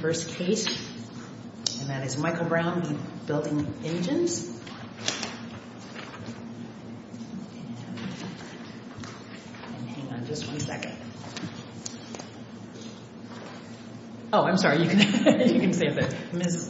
1st Case, Michael Brown v. Building Engines Ms.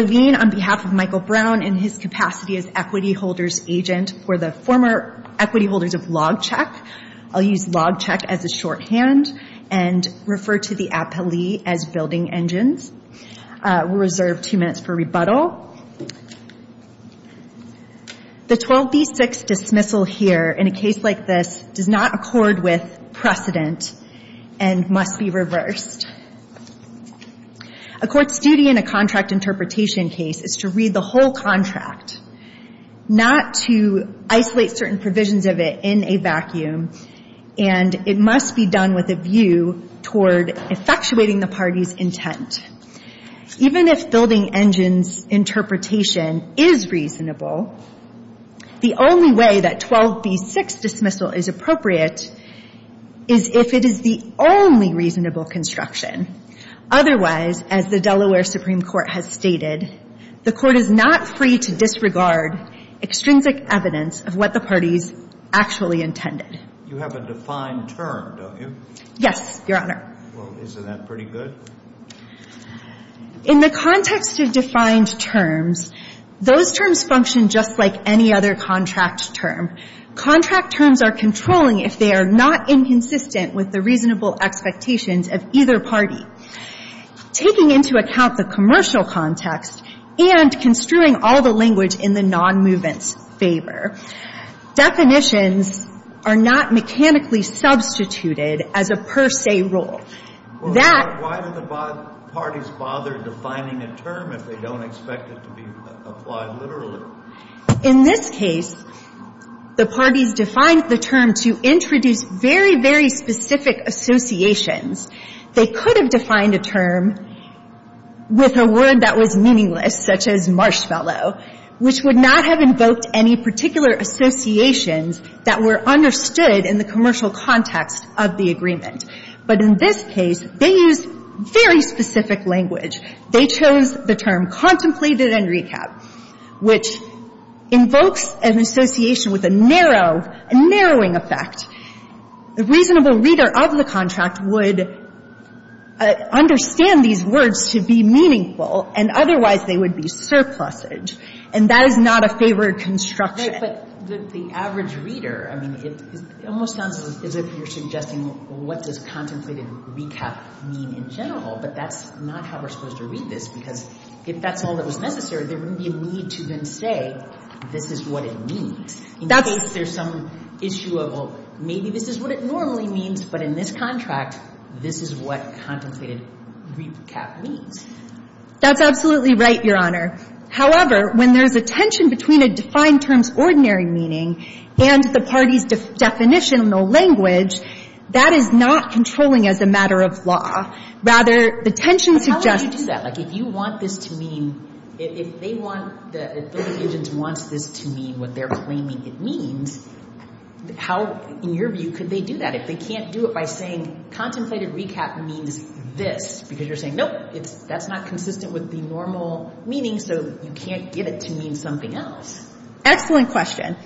Levine, on behalf of Michael Brown, in his capacity as Equity Holders Agent for the former Equity Holders of LogCheck, I'll use LogCheck as a shorthand and refer to the here in a case like this does not accord with precedent and must be reversed. A court's duty in a contract interpretation case is to read the whole contract, not to isolate certain provisions of it in a vacuum, and it must be done with a view toward effectuating the party's intent. Even if Building Engines' interpretation is reasonable, the only way that 12b-6 dismissal is appropriate is if it is the only reasonable construction. Otherwise, as the Delaware Supreme Court has stated, the Court is not free to disregard extrinsic evidence of what the parties actually intended. You have a defined term, don't you? Yes, Your Honor. Well, isn't that pretty good? In the context of defined terms, those terms function just like any other contract term. Contract terms are controlling if they are not inconsistent with the reasonable expectations of either party. Taking into account the commercial context and construing all the language in the non-movement's favor, definitions are not mechanically substituted as a per se rule. Well, why do the parties bother defining a term if they don't expect it to be applied literally? In this case, the parties defined the term to introduce very, very specific associations. They could have defined a term with a word that was meaningless, such as marshmallow, which would not have invoked any particular associations that were understood in the commercial context of the agreement. But in this case, they used very specific language. They chose the term contemplated and recap, which invokes an association with a narrow, a narrowing effect. The reasonable reader of the contract would understand these words to be meaningful, and otherwise they would be surplused, and that is not a favored construction. But the average reader, I mean, it almost sounds as if you're suggesting what does contemplated recap mean in general, but that's not how we're supposed to read this, because if that's all that was necessary, there wouldn't be a need to then say, this is what it means. In case there's some issue of, well, maybe this is what it normally means, but in this contract, this is what contemplated recap means. That's absolutely right, Your Honor. However, when there's a tension between a defined term's ordinary meaning and the party's definition in the language, that is not controlling as a matter of law. Rather, the tension suggests to me that if you want this to mean, if they want, if the litigants wants this to mean what they're claiming it means, how, in your view, could they do that? If they can't do it by saying contemplated recap means this, because you're saying, nope, that's not consistent with the normal meaning, so you can't get it to mean something else. Excellent question.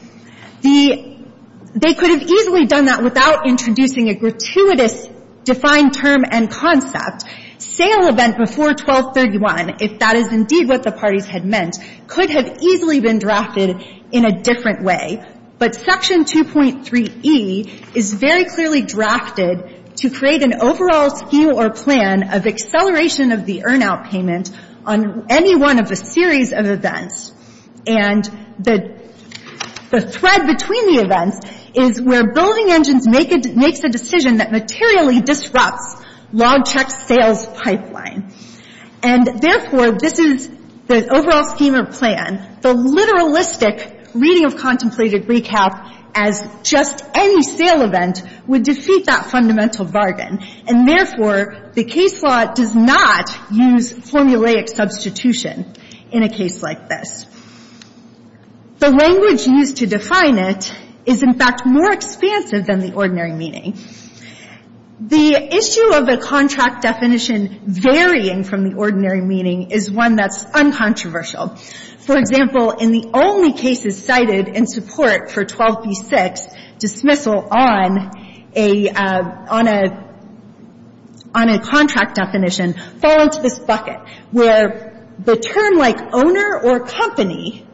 They could have easily done that without introducing a gratuitous defined term and concept. Sale event before 1231, if that is indeed what the parties had meant, could have easily been drafted in a different way. But Section 2.3e is very clearly drafted to create an overall scheme or plan of acceleration of the earn out payment on any one of the series of events. And the thread between the events is where building engines makes a decision that materially disrupts log check sales pipeline. And therefore, this is the overall scheme or plan. The literalistic reading of contemplated recap as just any sale event would defeat that fundamental bargain. And therefore, the case law does not use formulaic substitution in a case like this. The language used to define it is, in fact, more expansive than the ordinary meaning. The issue of a contract definition varying from the ordinary meaning is one that's uncontroversial. For example, in the only cases cited in support for 12b-6, dismissal on a, on a contract definition fall into this bucket where the term like owner or company,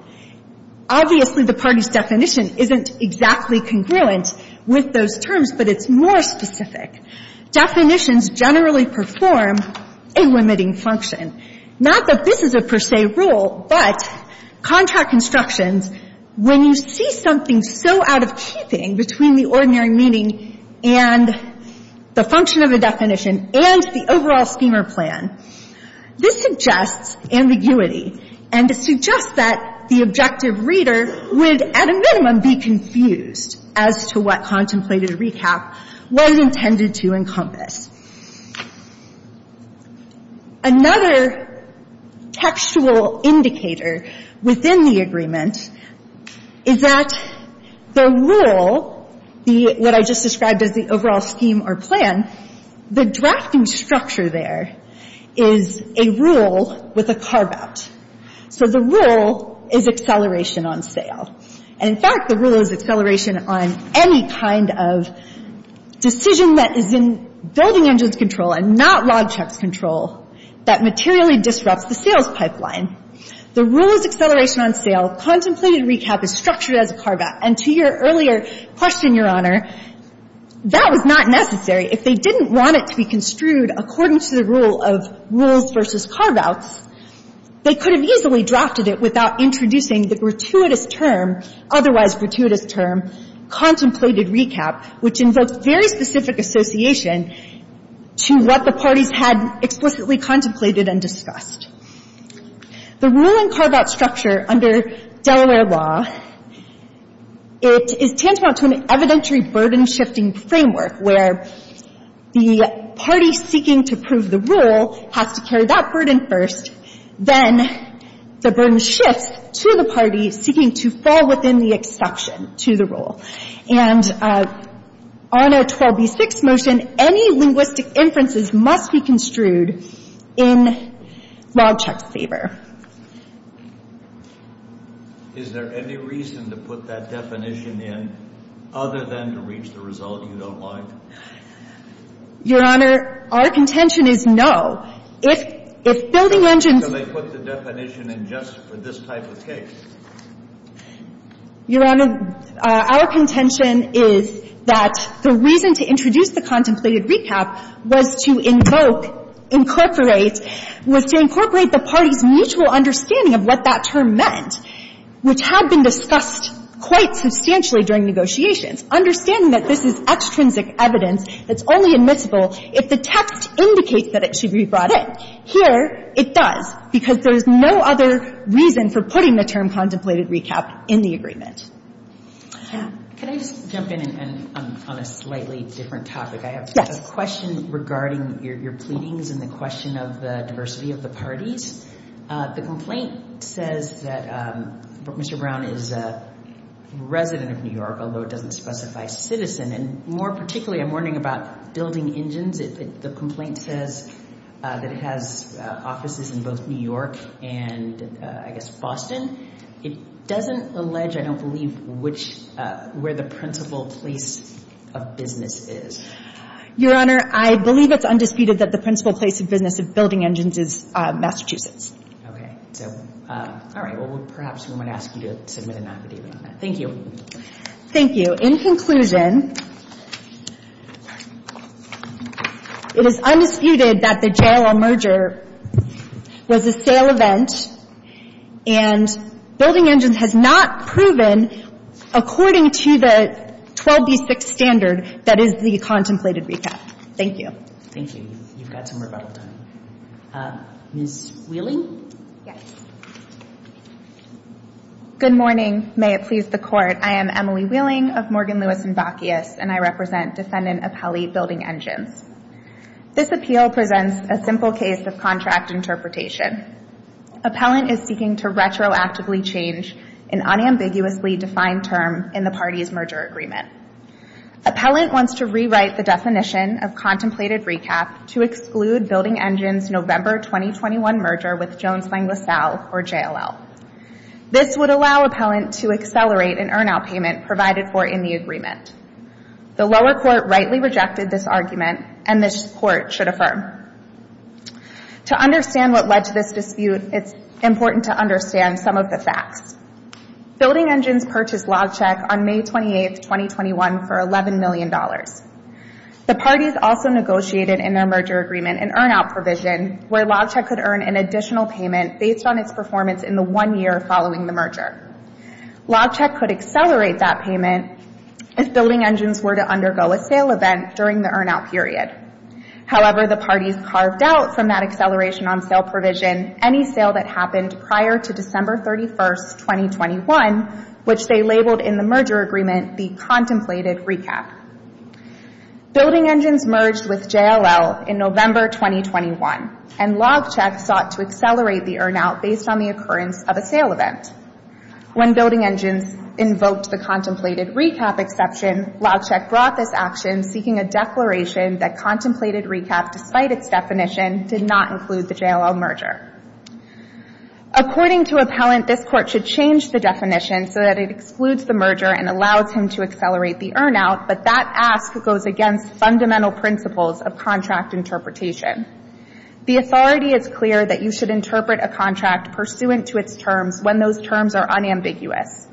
obviously the party's definition isn't exactly congruent with those terms, but it's more specific. Definitions generally perform a limiting function. Not that this is a per se rule, but contract instructions, when you see something so out of keeping between the ordinary meaning and the function of a definition and the overall scheme or plan, this suggests ambiguity and to suggest that the objective reader would, at a minimum, be confused as to what contemplated recap was intended to encompass. Another textual indicator within the agreement is that the rule, the, what I just described as the overall scheme or plan, the drafting structure there is a rule with a carve out. So the rule is acceleration on sale. And, in fact, the rule is acceleration on any kind of decision that is in building engines control and not log checks control that materially disrupts the sales pipeline. The rule is acceleration on sale. Contemplated recap is structured as a carve out. And to your earlier question, Your Honor, that was not necessary. If they didn't want it to be construed according to the rule of rules versus carve outs, they could have easily drafted it without introducing the gratuitous term, otherwise gratuitous term, contemplated recap, which invokes very specific association to what the parties had explicitly contemplated and discussed. The rule and carve out structure under Delaware law, it is tantamount to an evidentiary burden shifting framework where the party seeking to prove the rule has to carry that burden first, then the burden shifts to the party seeking to fall within the exception to the rule. And on a 12b6 motion, any linguistic inferences must be construed in log check's favor. Is there any reason to put that definition in other than to reach the result you don't like? Your Honor, our contention is no. If building engines Can they put the definition in just for this type of case? Your Honor, our contention is that the reason to introduce the contemplated recap was to invoke, incorporate, was to incorporate the party's mutual understanding of what that term meant, which had been discussed quite substantially during negotiations. Understanding that this is extrinsic evidence that's only admissible if the text indicates that it should be brought in. But here it does, because there's no other reason for putting the term contemplated recap in the agreement. Can I just jump in on a slightly different topic? I have a question regarding your pleadings and the question of the diversity of the parties. The complaint says that Mr. Brown is a resident of New York, although it doesn't specify citizen. And more particularly, I'm wondering about building engines. The complaint says that it has offices in both New York and, I guess, Boston. It doesn't allege, I don't believe, where the principal place of business is. Your Honor, I believe it's undisputed that the principal place of business of building engines is Massachusetts. Okay. So, all right. Well, perhaps we might ask you to submit an affidavit on that. Thank you. Thank you. So, in conclusion, it is undisputed that the JLL merger was a sale event and building engines has not proven according to the 12b6 standard that is the contemplated recap. Thank you. Thank you. You've got some rebuttal time. Ms. Wheeling? Yes. Good morning. May it please the Court. I am Emily Wheeling of Morgan, Lewis & Bacchius, and I represent Defendant Appellee Building Engines. This appeal presents a simple case of contract interpretation. Appellant is seeking to retroactively change an unambiguously defined term in the party's merger agreement. Appellant wants to rewrite the definition of contemplated recap to exclude building engines' November 2021 merger with Jones Lang LaSalle or JLL. This would allow Appellant to accelerate an earn-out payment provided for in the agreement. The lower court rightly rejected this argument, and this Court should affirm. To understand what led to this dispute, it's important to understand some of the facts. Building Engines purchased LogCheck on May 28, 2021, for $11 million. The parties also negotiated in their merger agreement an earn-out provision where Appellant's performance in the one year following the merger. LogCheck could accelerate that payment if Building Engines were to undergo a sale event during the earn-out period. However, the parties carved out from that acceleration on sale provision any sale that happened prior to December 31, 2021, which they labeled in the merger agreement the contemplated recap. Building Engines merged with JLL in November 2021, and LogCheck sought to accelerate the merger based on the occurrence of a sale event. When Building Engines invoked the contemplated recap exception, LogCheck brought this action seeking a declaration that contemplated recap, despite its definition, did not include the JLL merger. According to Appellant, this Court should change the definition so that it excludes the merger and allows him to accelerate the earn-out, but that ask goes against fundamental principles of contract interpretation. The authority is clear that you should interpret a contract pursuant to its terms when those terms are unambiguous.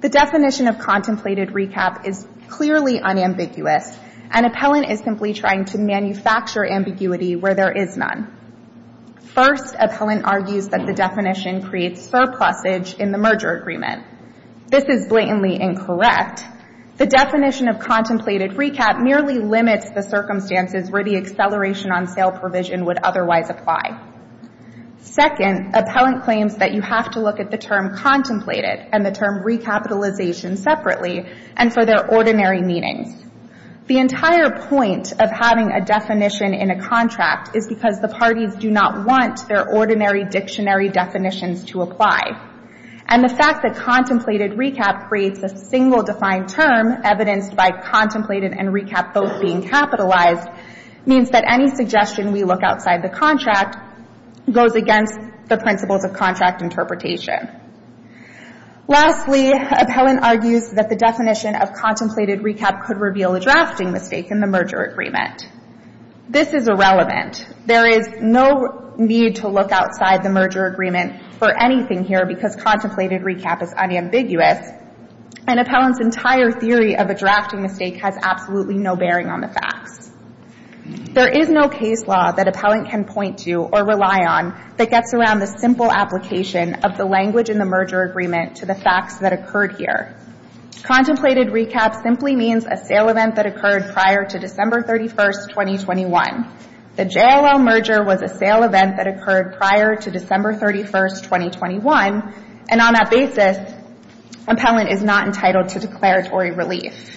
The definition of contemplated recap is clearly unambiguous, and Appellant is simply trying to manufacture ambiguity where there is none. First, Appellant argues that the definition creates surplusage in the merger agreement. This is blatantly incorrect. The definition of contemplated recap merely limits the circumstances where the acceleration on sale provision would otherwise apply. Second, Appellant claims that you have to look at the term contemplated and the term recapitalization separately and for their ordinary meanings. The entire point of having a definition in a contract is because the parties do not want their ordinary dictionary definitions to apply. And the fact that contemplated recap creates a single defined term evidenced by any suggestion we look outside the contract goes against the principles of contract interpretation. Lastly, Appellant argues that the definition of contemplated recap could reveal a drafting mistake in the merger agreement. This is irrelevant. There is no need to look outside the merger agreement for anything here because contemplated recap is unambiguous, and Appellant's entire theory of a drafting mistake has absolutely no bearing on the facts. There is no case law that Appellant can point to or rely on that gets around the simple application of the language in the merger agreement to the facts that occurred here. Contemplated recap simply means a sale event that occurred prior to December 31, 2021. The JLL merger was a sale event that occurred prior to December 31, 2021, and on that basis, Appellant is not entitled to declaratory relief.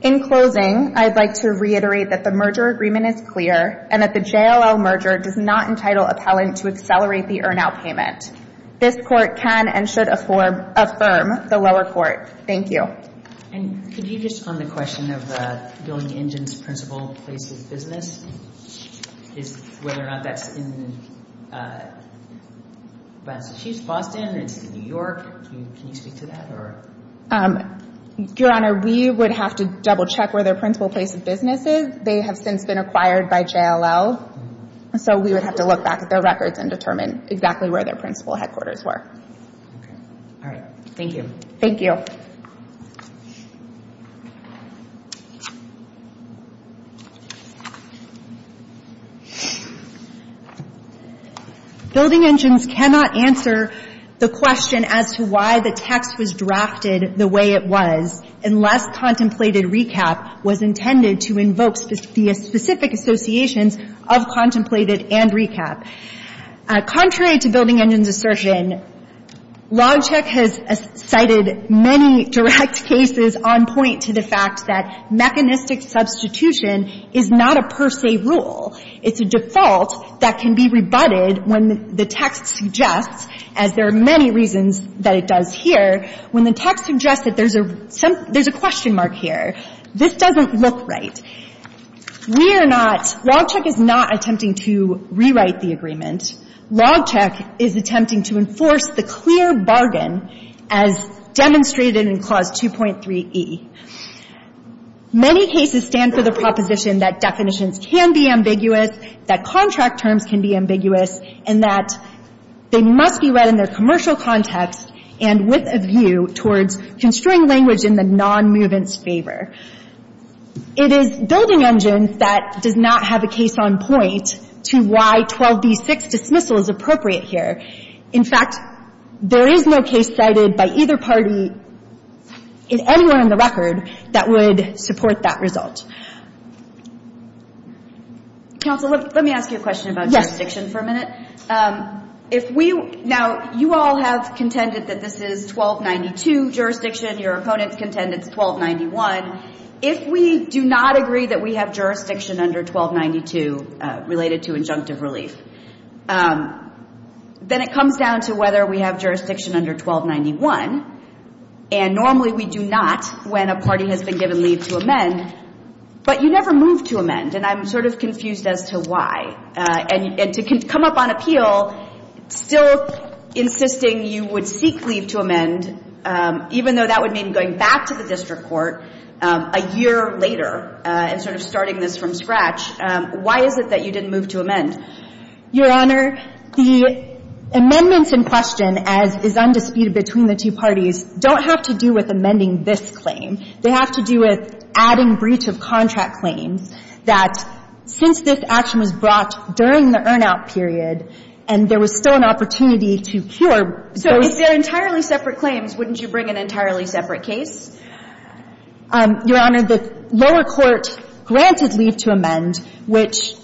In closing, I'd like to reiterate that the merger agreement is clear and that the JLL merger does not entitle Appellant to accelerate the earn-out payment. This Court can and should affirm the lower court. Thank you. And could you just on the question of the building engine's principal place of business, whether or not that's in Massachusetts, Boston, New York, can you speak to that? Your Honor, we would have to double-check where their principal place of business is. They have since been acquired by JLL, so we would have to look back at their records and determine exactly where their principal headquarters were. All right. Thank you. Thank you. Building engines cannot answer the question as to why the text was drafted the way it was unless contemplated recap was intended to invoke specific associations of contemplated and recap. Contrary to building engines assertion, Logcheck has cited many direct cases on point to the fact that mechanistic substitution is not a per se rule. It's a default that can be rebutted when the text suggests, as there are many reasons that it does here, when the text suggests that there's a question mark here. This doesn't look right. We are not, Logcheck is not attempting to rewrite the agreement. Logcheck is attempting to enforce the clear bargain as demonstrated in Clause 2.3e. Many cases stand for the proposition that definitions can be ambiguous, that contract terms can be ambiguous, and that they must be read in their commercial context and with a view towards construing language in the non-movement's favor. It is building engines that does not have a case on point to why 12b-6 dismissal is appropriate here. In fact, there is no case cited by either party in anywhere in the record that would support that result. Counsel, let me ask you a question about jurisdiction for a minute. Now, you all have contended that this is 1292 jurisdiction. Your opponents contend it's 1291. If we do not agree that we have jurisdiction under 1292 related to injunctive relief, then it comes down to whether we have jurisdiction under 1291, and normally we do not when a party has been given leave to amend, but you never move to amend. And I'm sort of confused as to why. And to come up on appeal, still insisting you would seek leave to amend, even though that would mean going back to the district court a year later and sort of starting this from scratch, why is it that you didn't move to amend? Your Honor, the amendments in question, as is undisputed between the two parties, don't have to do with amending this claim. They have to do with adding breach of contract claims that since this action was brought during the earn-out period and there was still an opportunity to cure those. If they're entirely separate claims, wouldn't you bring an entirely separate case? Your Honor, the lower court granted leave to amend, which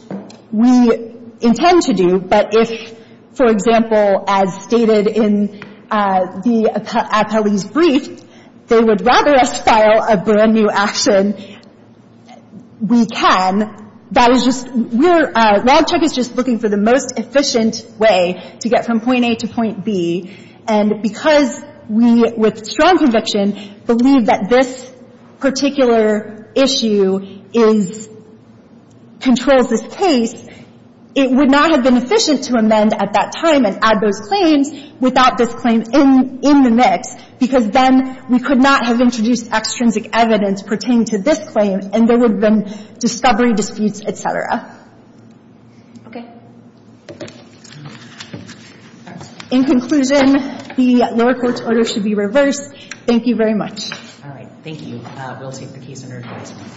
we intend to do, but if, for example, as stated in the appellee's brief, they would rather us file a brand-new action, we can. That is just we're — RADCHEC is just looking for the most efficient way to get from point A to point B. And because we, with strong conviction, believe that this particular issue is — controls this case, it would not have been efficient to amend at that time and add those claims without this claim in the mix, because then we could not have introduced extrinsic evidence pertaining to this claim, and there would have been discovery disputes, et cetera. Okay. All right. In conclusion, the lower court's order should be reversed. Thank you very much. All right. Thank you. We'll take the case under adjustment.